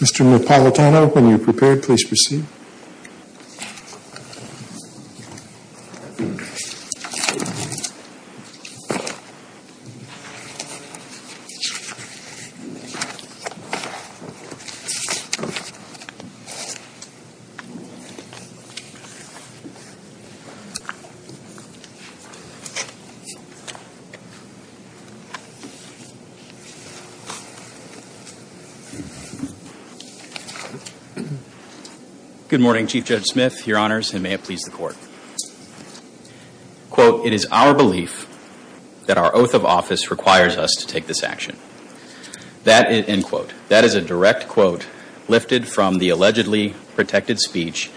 Mr. Napolitano, when you are prepared, please proceed. Thank you, Mr. Mayor. Good morning, Chief Judge Smith, your honors, and may it please the court. Quote, it is our belief that our oath of office requires us to take this action. That, end quote, that is a direct quote lifted from the allegedly protected speech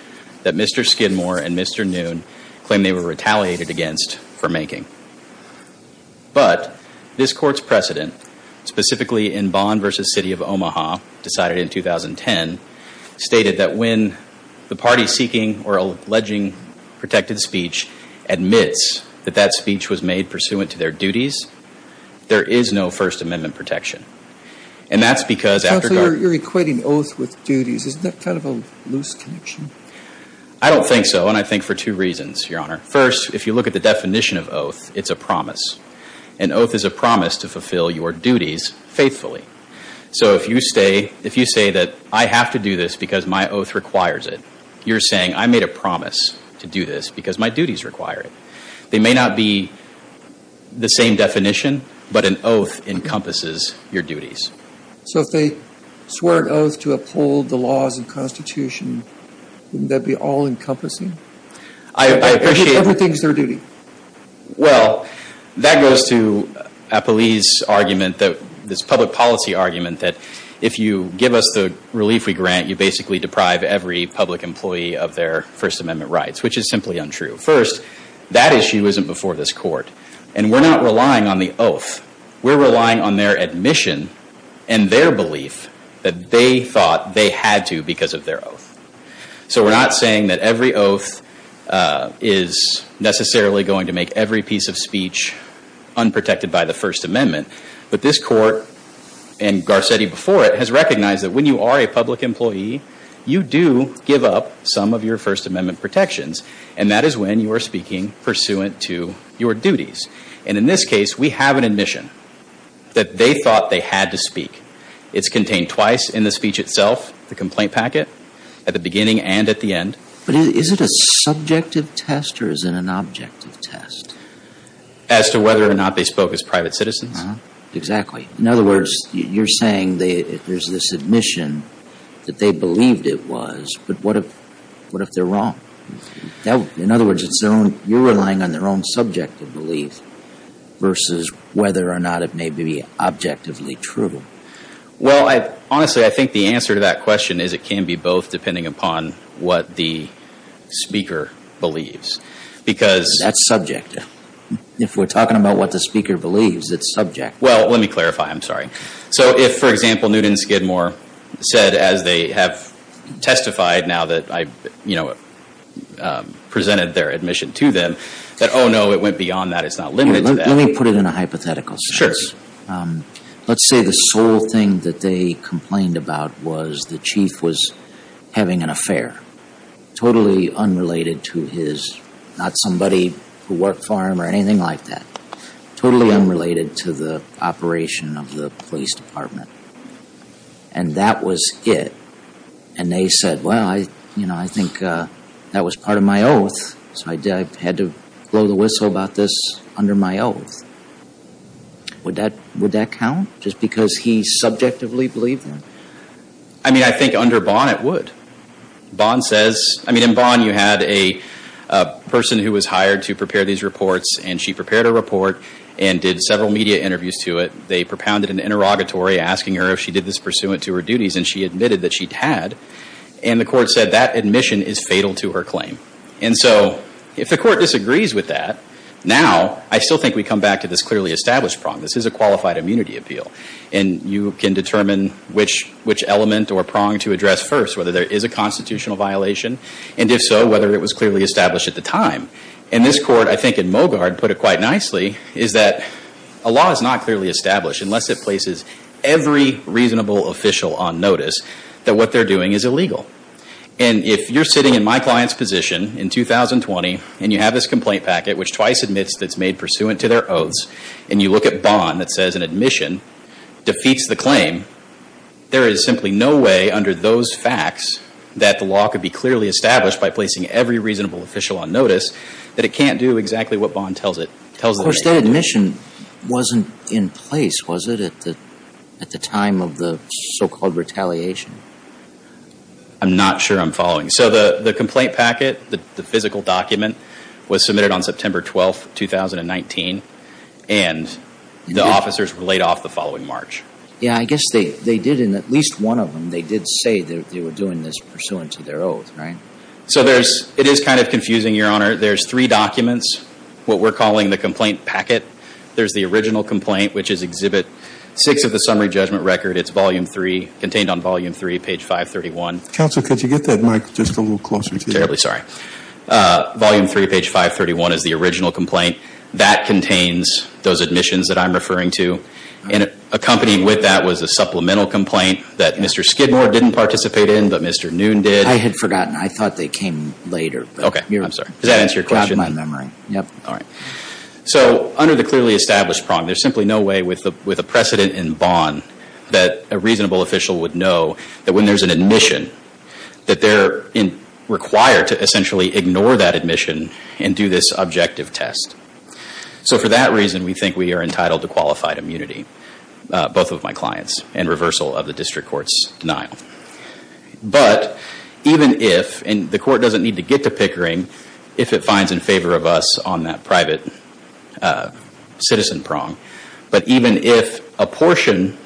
that Mr. Skidmore and Mr. Noon claimed they were retaliated against for making. But, this court's precedent, specifically in Bond v. City of Omaha, decided in 2010, stated that when the party seeking or alleging protected speech admits that that speech was made pursuant to their duties, there is no First Amendment protection. And that's because after- Counselor, you're equating oath with duties. Isn't that kind of a loose connection? I don't think so, and I think for two reasons, your honor. First, if you look at the definition of oath, it's a promise. An oath is a promise to fulfill your duties faithfully. So, if you say that I have to do this because my oath requires it, you're saying I made a promise to do this because my duties require it. They may not be the same definition, but an oath encompasses your duties. So, if they swore an oath to uphold the laws of Constitution, wouldn't that be all-encompassing? I appreciate- Everything's their duty. Well, that goes to Apolli's argument, this public policy argument, that if you give us the relief we grant, you basically deprive every public employee of their First Amendment rights, which is simply untrue. First, that issue isn't before this court, and we're not relying on the oath. We're relying on their admission and their belief that they thought they had to because of their oath. So, we're not saying that every oath is necessarily going to make every piece of speech unprotected by the First Amendment. But this court, and Garcetti before it, has recognized that when you are a public employee, you do give up some of your First Amendment protections. And that is when you are speaking pursuant to your duties. And in this case, we have an admission that they thought they had to speak. It's contained twice in the speech itself, the complaint packet, at the beginning and at the end. But is it a subjective test or is it an objective test? As to whether or not they spoke as private citizens. Exactly. In other words, you're saying there's this admission that they believed it was, but what if they're wrong? In other words, you're relying on their own subjective belief versus whether or not it may be objectively true. Well, honestly, I think the answer to that question is it can be both depending upon what the speaker believes. That's subjective. If we're talking about what the speaker believes, it's subjective. So if, for example, Newton Skidmore said, as they have testified now that I presented their admission to them, that, oh, no, it went beyond that, it's not limited to that. Let me put it in a hypothetical sense. Sure. Let's say the sole thing that they complained about was the chief was having an affair, totally unrelated to his, not somebody who worked for him or anything like that, totally unrelated to the operation of the police department. And that was it. And they said, well, I think that was part of my oath, so I had to blow the whistle about this under my oath. Would that count just because he subjectively believed them? I mean, I think under Bonn it would. Bonn says, I mean, in Bonn you had a person who was hired to prepare these reports, and she prepared a report and did several media interviews to it. They propounded an interrogatory asking her if she did this pursuant to her duties, and she admitted that she had. And the court said that admission is fatal to her claim. And so if the court disagrees with that, now I still think we come back to this clearly established prong. This is a qualified immunity appeal. And you can determine which element or prong to address first, whether there is a constitutional violation, and if so, whether it was clearly established at the time. And this court, I think in Mogard put it quite nicely, is that a law is not clearly established unless it places every reasonable official on notice that what they're doing is illegal. And if you're sitting in my client's position in 2020, and you have this complaint packet, which twice admits that it's made pursuant to their oaths, and you look at Bond that says an admission defeats the claim, there is simply no way under those facts that the law could be clearly established by placing every reasonable official on notice that it can't do exactly what Bond tells it. Of course, that admission wasn't in place, was it, at the time of the so-called retaliation? I'm not sure I'm following. So the complaint packet, the physical document, was submitted on September 12, 2019, and the officers were laid off the following March. Yeah, I guess they did in at least one of them, they did say they were doing this pursuant to their oath, right? So it is kind of confusing, Your Honor. There's three documents, what we're calling the complaint packet. There's the original complaint, which is Exhibit 6 of the summary judgment record. It's volume 3, contained on volume 3, page 531. Counsel, could you get that mic just a little closer to you? Terribly sorry. Volume 3, page 531, is the original complaint. That contains those admissions that I'm referring to, and accompanied with that was a supplemental complaint that Mr. Skidmore didn't participate in, but Mr. Noon did. I had forgotten. I thought they came later. Okay. I'm sorry. Does that answer your question? Yeah. All right. So under the clearly established prong, there's simply no way with a precedent in Bond that a reasonable official would know that when there's an admission, that they're required to essentially ignore that admission and do this objective test. So for that reason, we think we are entitled to qualified immunity, both of my clients, in reversal of the district court's denial. But even if, and the court doesn't need to get to Pickering, if it finds in favor of us on that private citizen prong, but even if a portion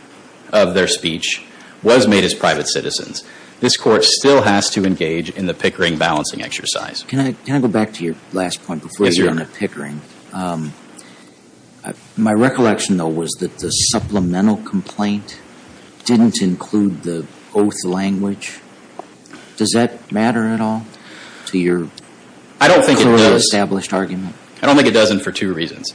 of their speech was made as private citizens, this court still has to engage in the Pickering balancing exercise. Can I go back to your last point before you go into Pickering? Yes, Your Honor. My recollection, though, was that the supplemental complaint didn't include the oath language. Does that matter at all to your clearly established argument? I don't think it does. I don't think it does for two reasons.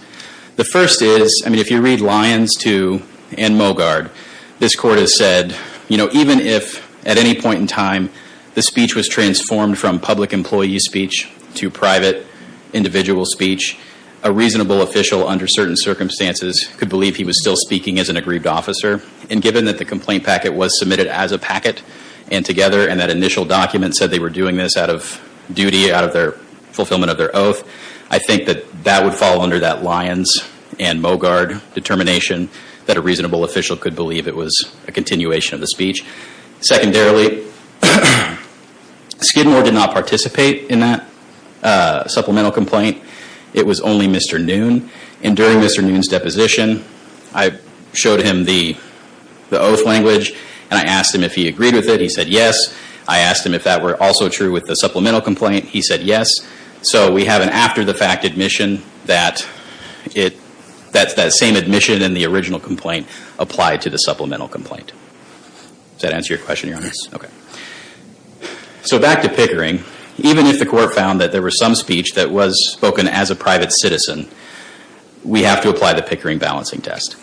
The first is, I mean, if you read Lyons 2 and Mogard, this court has said, you know, even if at any point in time the speech was transformed from public employee speech to private individual speech, a reasonable official under certain circumstances could believe he was still speaking as an aggrieved officer. And given that the complaint packet was submitted as a packet, and together and that initial document said they were doing this out of duty, out of their fulfillment of their oath, I think that that would fall under that Lyons and Mogard determination that a reasonable official could believe it was a continuation of the speech. Secondarily, Skidmore did not participate in that supplemental complaint. It was only Mr. Noon. And during Mr. Noon's deposition, I showed him the oath language, and I asked him if he agreed with it. He said yes. I asked him if that were also true with the supplemental complaint. He said yes. So we have an after-the-fact admission that it, that same admission in the original complaint applied to the supplemental complaint. Does that answer your question, Your Honor? Yes. Okay. So back to Pickering. Even if the court found that there was some speech that was spoken as a private citizen, we have to apply the Pickering balancing test.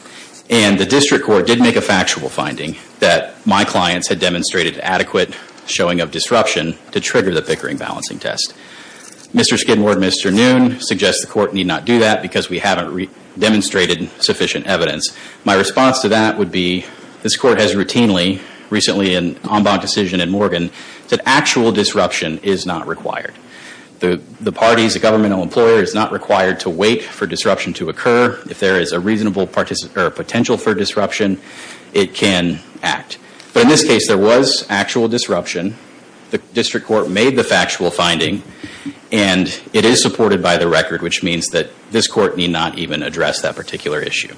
And the district court did make a factual finding that my clients had demonstrated adequate showing of disruption to trigger the Pickering balancing test. Mr. Skidmore and Mr. Noon suggest the court need not do that because we haven't demonstrated sufficient evidence. My response to that would be this court has routinely, recently in an en banc decision in Morgan, that actual disruption is not required. The parties, the governmental employer, is not required to wait for disruption to occur. If there is a reasonable potential for disruption, it can act. But in this case, there was actual disruption. The district court made the factual finding. And it is supported by the record, which means that this court need not even address that particular issue.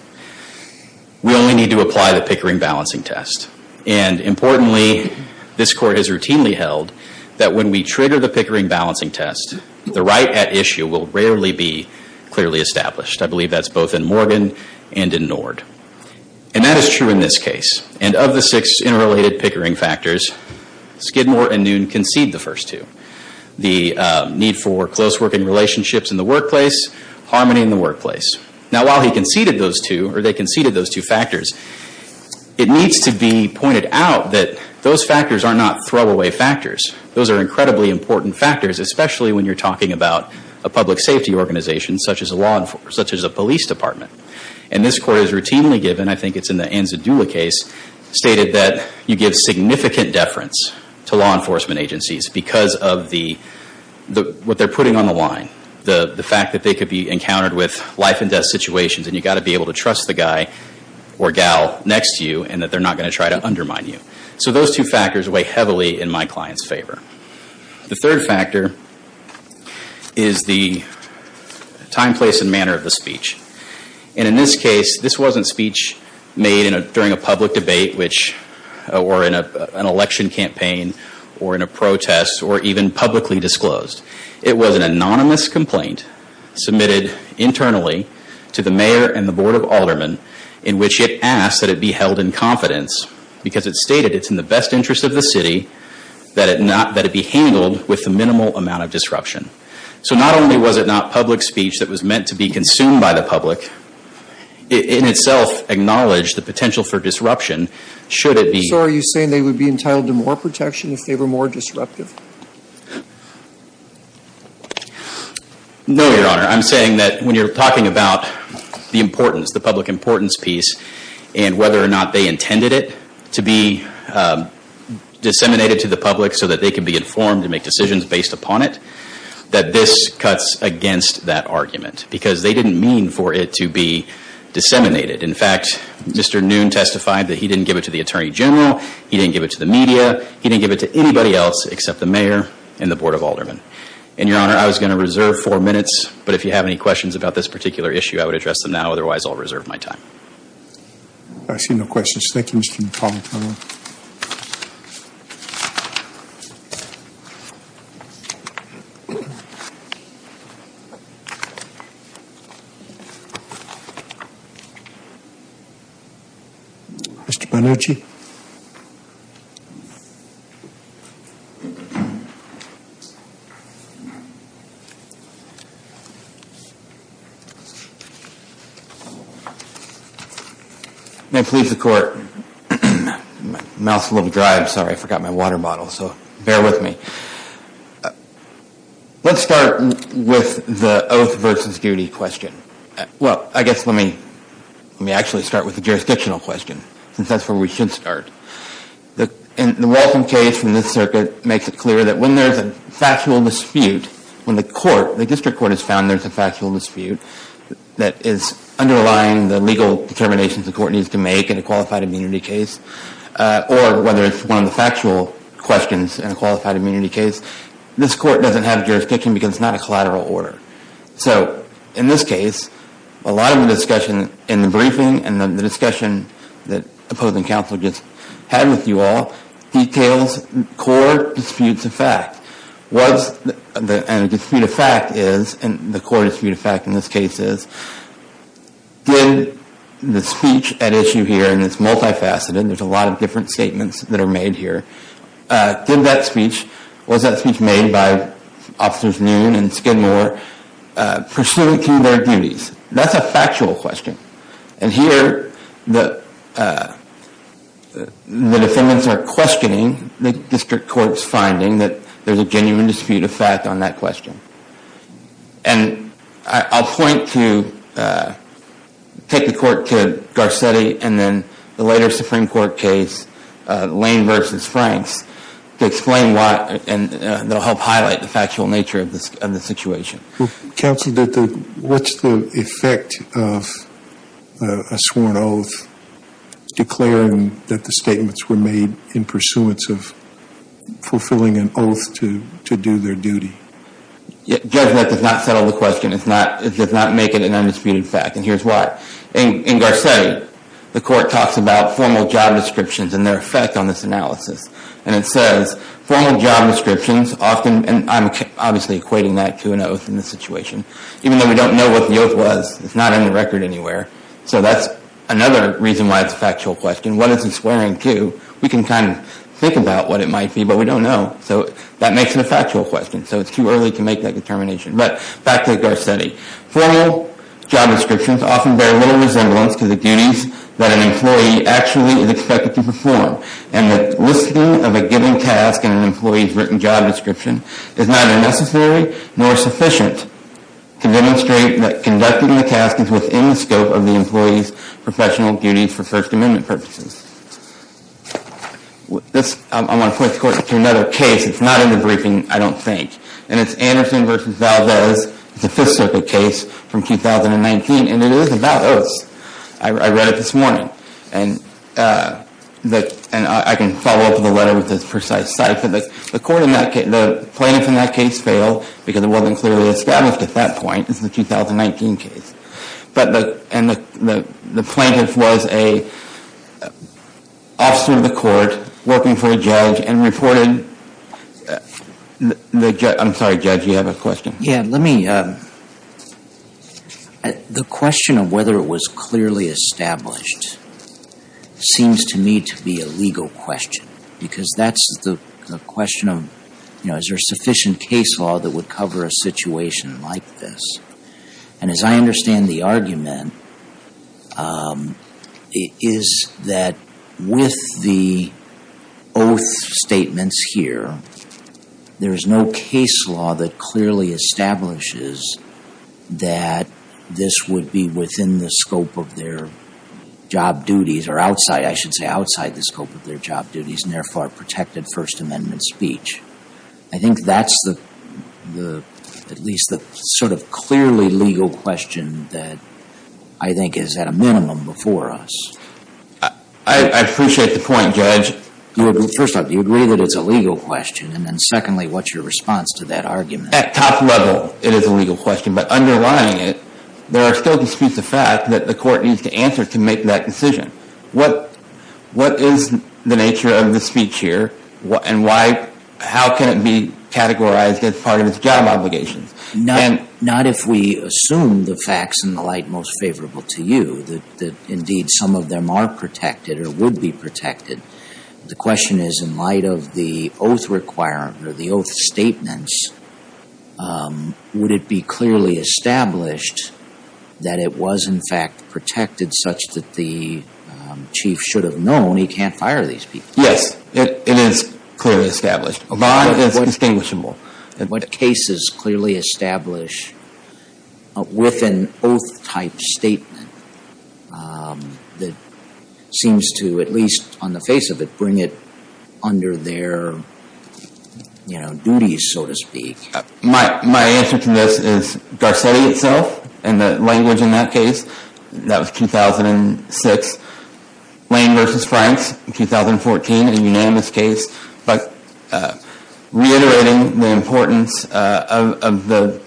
We only need to apply the Pickering balancing test. And importantly, this court has routinely held that when we trigger the Pickering balancing test, the right at issue will rarely be clearly established. I believe that's both in Morgan and in Nord. And that is true in this case. And of the six interrelated Pickering factors, Skidmore and Noon concede the first two. The need for close working relationships in the workplace, harmony in the workplace. Now, while he conceded those two, or they conceded those two factors, it needs to be pointed out that those factors are not throwaway factors. Those are incredibly important factors, especially when you're talking about a public safety organization such as a police department. And this court has routinely given, I think it's in the Anzadula case, stated that you give significant deference to law enforcement agencies because of what they're putting on the line. The fact that they could be encountered with life and death situations and you've got to be able to trust the guy or gal next to you and that they're not going to try to undermine you. So those two factors weigh heavily in my client's favor. The third factor is the time, place and manner of the speech. And in this case, this wasn't speech made during a public debate or in an election campaign or in a protest or even publicly disclosed. It was an anonymous complaint submitted internally to the mayor and the board of aldermen in which it asked that it be held in confidence because it stated it's in the best interest of the city that it be handled with the minimal amount of disruption. So not only was it not public speech that was meant to be consumed by the public, it in itself acknowledged the potential for disruption should it be... So are you saying they would be entitled to more protection if they were more disruptive? No, Your Honor. I'm saying that when you're talking about the importance, the public importance piece and whether or not they intended it to be disseminated to the public so that they could be informed and make decisions based upon it, that this cuts against that argument because they didn't mean for it to be disseminated. In fact, Mr. Noon testified that he didn't give it to the attorney general, he didn't give it to the media, he didn't give it to anybody else except the mayor and the board of aldermen. And, Your Honor, I was going to reserve four minutes, but if you have any questions about this particular issue, I would address them now. Otherwise, I'll reserve my time. I see no questions. Thank you, Mr. McConnell. May it please the Court. My mouth's a little dry. I'm sorry. I forgot my water bottle. So bear with me. Let's start with the oath versus duty question. Well, I guess let me actually start with the jurisdictional question since that's where we should start. The Walton case from this circuit makes it clear that when there's a factual dispute, when the court, the district court has found there's a factual dispute that is underlying the legal determinations the court needs to make in a qualified immunity case, or whether it's one of the factual questions in a qualified immunity case, this court doesn't have jurisdiction because it's not a collateral order. So, in this case, a lot of the discussion in the briefing and the discussion that opposing counsel just had with you all details core disputes of fact. And a dispute of fact is, and the core dispute of fact in this case is, did the speech at issue here, and it's multifaceted, there's a lot of different statements that are made here, was that speech made by Officers Noon and Skidmore pursuant to their duties? That's a factual question. And here, the defendants are questioning, the district court's finding that there's a genuine dispute of fact on that question. And I'll point to, take the court to Garcetti and then the later Supreme Court case, Lane v. Franks, to explain why, and they'll help highlight the factual nature of the situation. Counsel, what's the effect of a sworn oath declaring that the statements were made in pursuance of fulfilling an oath to do their duty? Judge, that does not settle the question. It does not make it an undisputed fact. And here's why. In Garcetti, the court talks about formal job descriptions and their effect on this analysis. And it says, formal job descriptions often, and I'm obviously equating that to an oath in this situation. Even though we don't know what the oath was, it's not in the record anywhere. So that's another reason why it's a factual question. What is the swearing to? We can kind of think about what it might be, but we don't know. So that makes it a factual question. So it's too early to make that determination. But back to Garcetti. Formal job descriptions often bear little resemblance to the duties that an employee actually is expected to perform. And the listing of a given task in an employee's written job description is neither necessary nor sufficient to demonstrate that conducting the task is within the scope of the employee's professional duties for First Amendment purposes. I want to point the court to another case. It's not in the briefing, I don't think. And it's Anderson v. Valdez. It's a Fifth Circuit case from 2019, and it is about oaths. I read it this morning. And I can follow up with a letter with this precise site. But the plaintiff in that case failed because it wasn't clearly established at that point. It's the 2019 case. And the plaintiff was an officer of the court working for a judge and reported the judge. I'm sorry, Judge, you have a question? Yeah, let me. The question of whether it was clearly established seems to me to be a legal question, because that's the question of, you know, is there sufficient case law that would cover a situation like this? And as I understand the argument, is that with the oath statements here, there is no case law that clearly establishes that this would be within the scope of their job duties, or outside, I should say, outside the scope of their job duties, and therefore protected First Amendment speech. I think that's at least the sort of clearly legal question that I think is at a minimum before us. I appreciate the point, Judge. First off, do you agree that it's a legal question? And then secondly, what's your response to that argument? At top level, it is a legal question. But underlying it, there are still disputes of fact that the court needs to answer to make that decision. What is the nature of the speech here, and how can it be categorized as part of its job obligations? Not if we assume the facts in the light most favorable to you, that indeed some of them are protected or would be protected. The question is, in light of the oath requirement, or the oath statements, would it be clearly established that it was in fact protected such that the chief should have known he can't fire these people? Yes, it is clearly established. A bond is distinguishable. What cases clearly establish with an oath-type statement that seems to, at least on the face of it, bring it under their duties, so to speak? My answer to this is Garcetti itself, and the language in that case. That was 2006. Lane v. Franks, 2014, a unanimous case. But reiterating the importance of the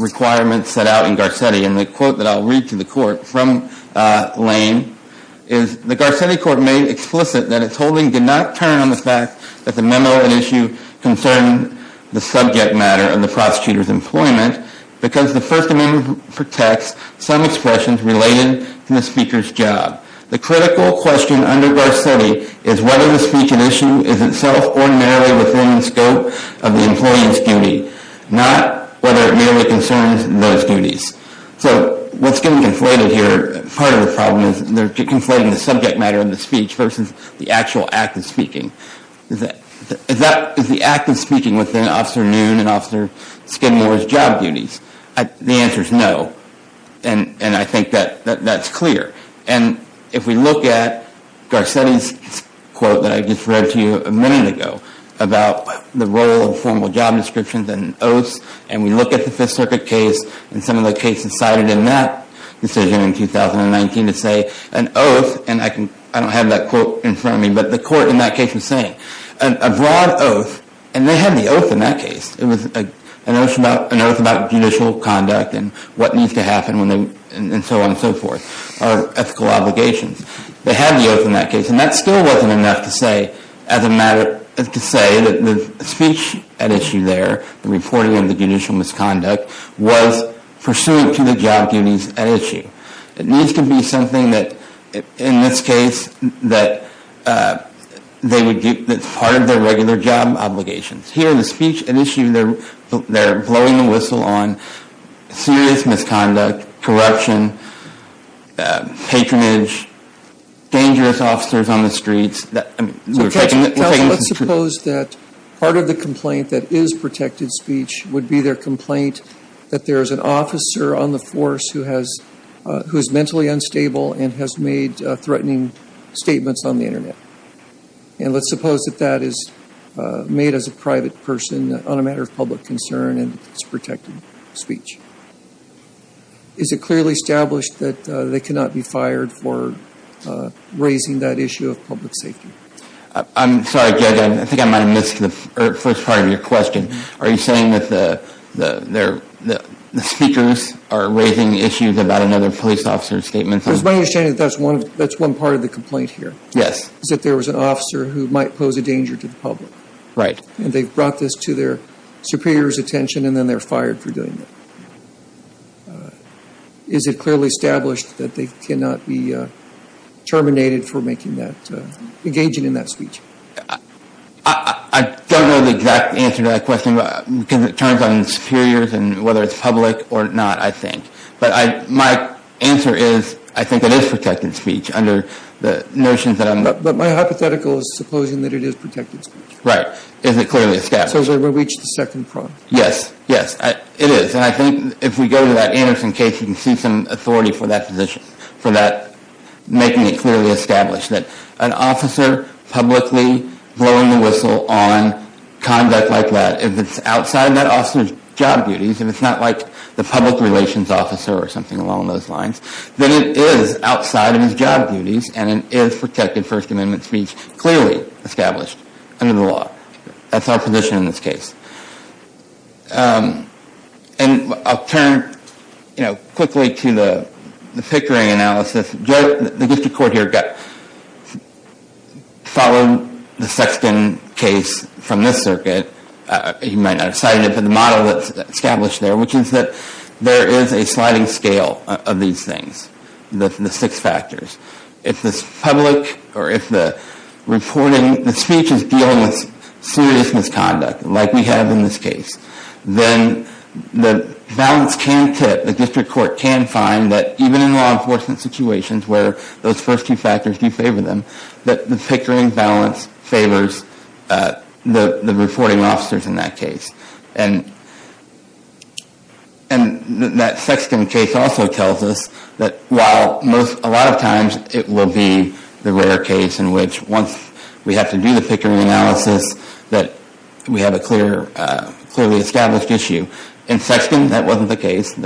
requirements set out in Garcetti, and the quote that I'll read to the court from Lane is, the Garcetti court made explicit that its holding did not turn on the fact that the memo and issue concern the subject matter of the prosecutor's employment because the First Amendment protects some expressions related to the speaker's job. The critical question under Garcetti is whether the speech and issue is itself ordinarily within the scope of the employee's duty, not whether it merely concerns those duties. So what's getting conflated here, part of the problem is, they're conflating the subject matter of the speech versus the actual act of speaking. Is the act of speaking within Officer Noon and Officer Skidmore's job duties? The answer is no. And I think that that's clear. And if we look at Garcetti's quote that I just read to you a minute ago about the role of formal job descriptions and oaths, and we look at the Fifth Circuit case, and some of the cases cited in that decision in 2019 to say, an oath, and I don't have that quote in front of me, but the court in that case was saying, a broad oath, and they had the oath in that case. It was an oath about judicial conduct and what needs to happen when they, and so on and so forth, are ethical obligations. They had the oath in that case, and that still wasn't enough to say, as a matter, to say that the speech at issue there, the reporting of the judicial misconduct, was pursuant to the job duties at issue. It needs to be something that, in this case, that's part of their regular job obligations. Here, the speech at issue, they're blowing the whistle on serious misconduct, corruption, patronage, dangerous officers on the streets. Counsel, let's suppose that part of the complaint that is protected speech would be their complaint that there's an officer on the force who is mentally unstable and has made threatening statements on the Internet, and let's suppose that that is made as a private person on a matter of public concern and it's protected speech. Is it clearly established that they cannot be fired for raising that issue of public safety? I'm sorry, Judge, I think I might have missed the first part of your question. Are you saying that the speakers are raising issues about another police officer's statement? It's my understanding that that's one part of the complaint here. Yes. Is that there was an officer who might pose a danger to the public. Right. And they've brought this to their superior's attention, and then they're fired for doing it. Is it clearly established that they cannot be terminated for making that, engaging in that speech? I don't know the exact answer to that question because it turns on the superiors and whether it's public or not, I think. But my answer is I think it is protected speech under the notions that I'm. But my hypothetical is supposing that it is protected speech. Right. Is it clearly established? So has everybody reached the second part? Yes. Yes, it is. And I think if we go to that Anderson case, you can see some authority for that position, for that making it clearly established that an officer publicly blowing the whistle on conduct like that, if it's outside that officer's job duties, if it's not like the public relations officer or something along those lines, then it is outside of his job duties, and it is protected First Amendment speech clearly established under the law. That's our position in this case. And I'll turn quickly to the Pickering analysis. The district court here followed the Sexton case from this circuit. You might not have cited it, but the model that's established there, which is that there is a sliding scale of these things, the six factors. If the public or if the reporting, the speech is dealing with serious misconduct, like we have in this case, then the balance can tip. The district court can find that even in law enforcement situations where those first two factors do favor them, that the Pickering balance favors the reporting officers in that case. And that Sexton case also tells us that while a lot of times it will be the rare case in which once we have to do the Pickering analysis that we have a clearly established issue. In Sexton, that wasn't the case.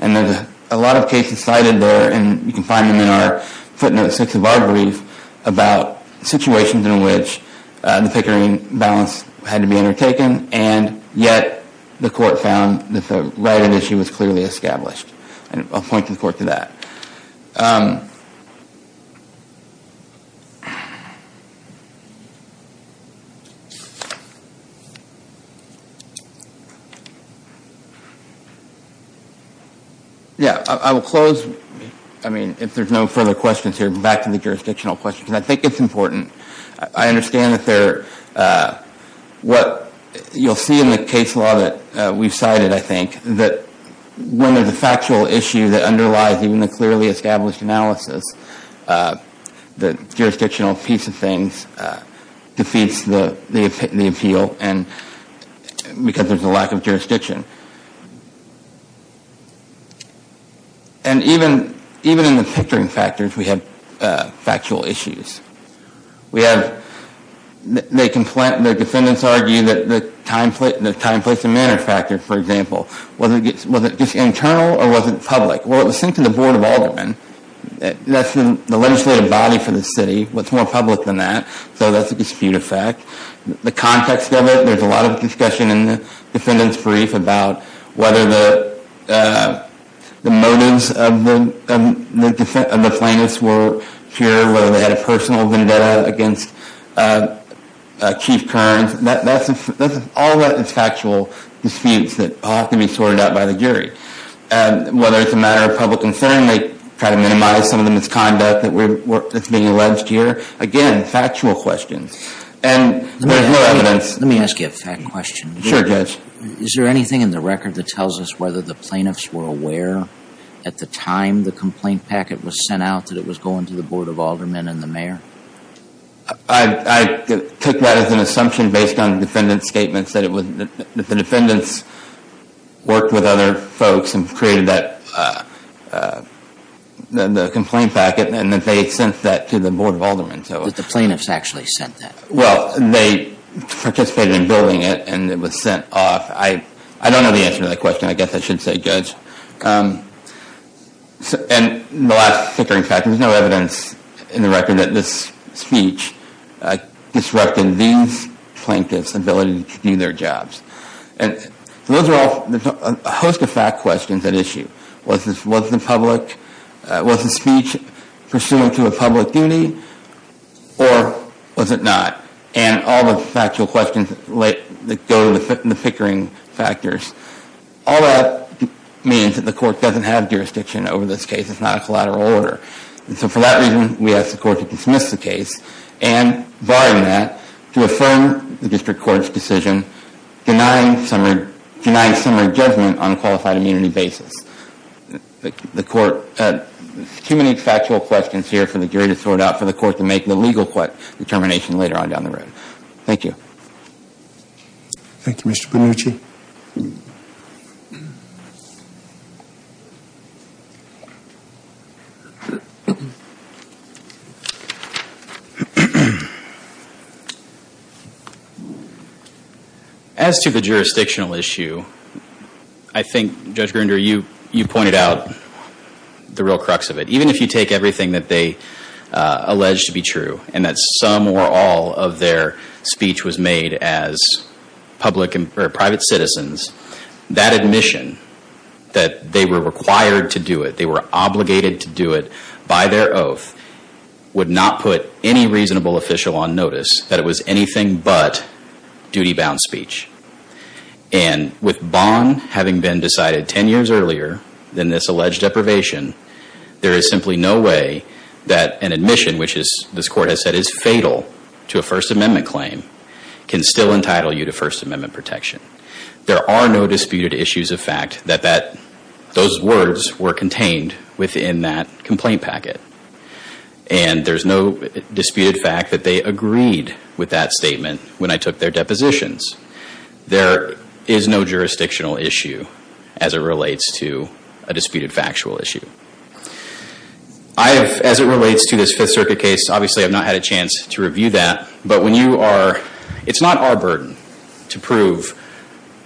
And there's a lot of cases cited there, and you can find them in our footnote six of our brief about situations in which the Pickering balance had to be undertaken, and yet the court found that the right of issue was clearly established. I'll point the court to that. Yeah, I will close. I mean, if there's no further questions here, back to the jurisdictional question, because I think it's important. I understand that there, what you'll see in the case law that we've cited, I think, that when there's a factual issue that underlies even the clearly established analysis, the jurisdictional piece of things defeats the appeal because there's a lack of jurisdiction. And even in the Pickering factors, we have factual issues. We have, the defendants argue that the time, place, and manner factor, for example, was it just internal or was it public? Well, it was sent to the Board of Aldermen. That's the legislative body for the city. What's more public than that? So that's a dispute effect. The context of it, there's a lot of discussion in the defendant's brief about whether the motives of the plaintiffs were pure, whether they had a personal vendetta against Chief Kearns. All of that is factual disputes that all have to be sorted out by the jury. Whether it's a matter of public concern, they try to minimize some of the misconduct that's being alleged here. Again, factual questions. And there's no evidence. Let me ask you a fact question. Sure, Judge. Is there anything in the record that tells us whether the plaintiffs were aware at the time the complaint packet was sent out that it was going to the Board of Aldermen and the mayor? I took that as an assumption based on the defendant's statements that the defendants worked with other folks and created that complaint packet and that they had sent that to the Board of Aldermen. Did the plaintiffs actually send that? Well, they participated in building it and it was sent off. I don't know the answer to that question. I guess I should say, Judge. And the last fickering fact, there's no evidence in the record that this speech disrupted these plaintiffs' ability to do their jobs. And those are all a host of fact questions at issue. Was the speech pursuant to a public duty or was it not? And all the factual questions that go to the fickering factors. All that means that the court doesn't have jurisdiction over this case. It's not a collateral order. And so for that reason, we ask the court to dismiss the case and barring that, to affirm the district court's decision denying summary judgment on qualified immunity basis. The court, too many factual questions here for the jury to sort out and allow for the court to make the legal determination later on down the road. Thank you. Thank you, Mr. Panucci. As to the jurisdictional issue, I think, Judge Grinder, you pointed out the real crux of it. Even if you take everything that they allege to be true and that some or all of their speech was made as public or private citizens, that admission that they were required to do it, they were obligated to do it by their oath, would not put any reasonable official on notice that it was anything but duty-bound speech. And with Bond having been decided 10 years earlier than this alleged deprivation, there is simply no way that an admission, which this court has said is fatal to a First Amendment claim, can still entitle you to First Amendment protection. There are no disputed issues of fact that those words were contained within that complaint packet. And there's no disputed fact that they agreed with that statement when I took their depositions. There is no jurisdictional issue as it relates to a disputed factual issue. As it relates to this Fifth Circuit case, obviously I've not had a chance to review that, but it's not our burden to prove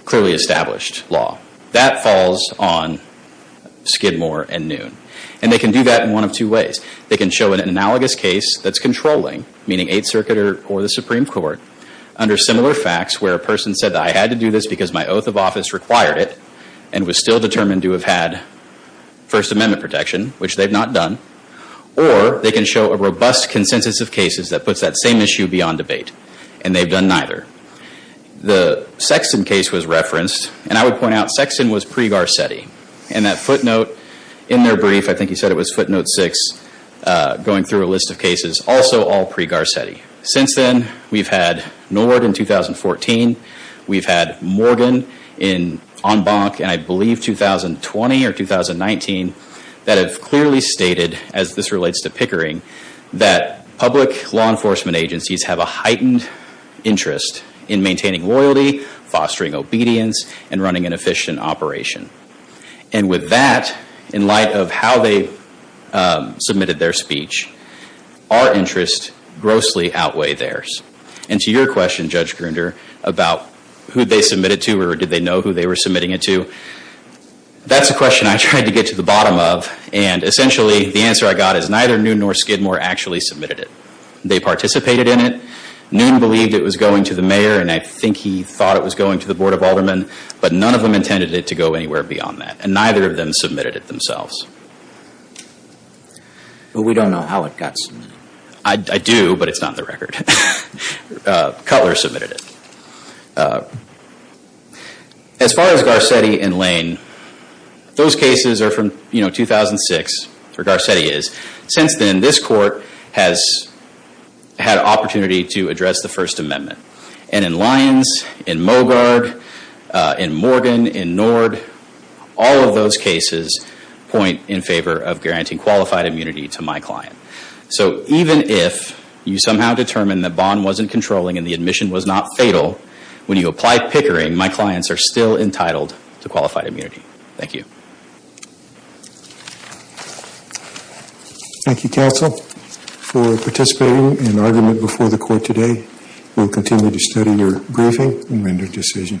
clearly established law. That falls on Skidmore and Noon. And they can do that in one of two ways. They can show an analogous case that's controlling, meaning Eighth Circuit or the Supreme Court, under similar facts where a person said, I had to do this because my oath of office required it and was still determined to have had First Amendment protection, which they've not done. Or they can show a robust consensus of cases that puts that same issue beyond debate. And they've done neither. The Sexton case was referenced, and I would point out Sexton was pre-Garcetti. And that footnote in their brief, I think he said it was footnote six, going through a list of cases, also all pre-Garcetti. Since then, we've had Nord in 2014. We've had Morgan on Bonk in, I believe, 2020 or 2019, that have clearly stated, as this relates to Pickering, that public law enforcement agencies have a heightened interest in maintaining loyalty, fostering obedience, and running an efficient operation. And with that, in light of how they submitted their speech, our interests grossly outweigh theirs. And to your question, Judge Grunder, about who they submitted to or did they know who they were submitting it to, that's a question I tried to get to the bottom of. And essentially, the answer I got is neither Noon nor Skidmore actually submitted it. They participated in it. Noon believed it was going to the mayor, and I think he thought it was going to the Board of Aldermen. But none of them intended it to go anywhere beyond that. And neither of them submitted it themselves. But we don't know how it got submitted. I do, but it's not in the record. Cutler submitted it. As far as Garcetti and Lane, those cases are from 2006, or Garcetti is. Since then, this Court has had an opportunity to address the First Amendment. And in Lyons, in Mogard, in Morgan, in Nord, all of those cases point in favor of guaranteeing qualified immunity to my client. So even if you somehow determine the bond wasn't controlling and the admission was not fatal, when you apply Pickering, my clients are still entitled to qualified immunity. Thank you. Thank you, Counsel, for participating in argument before the Court today. We'll continue to study your briefing and render a decision.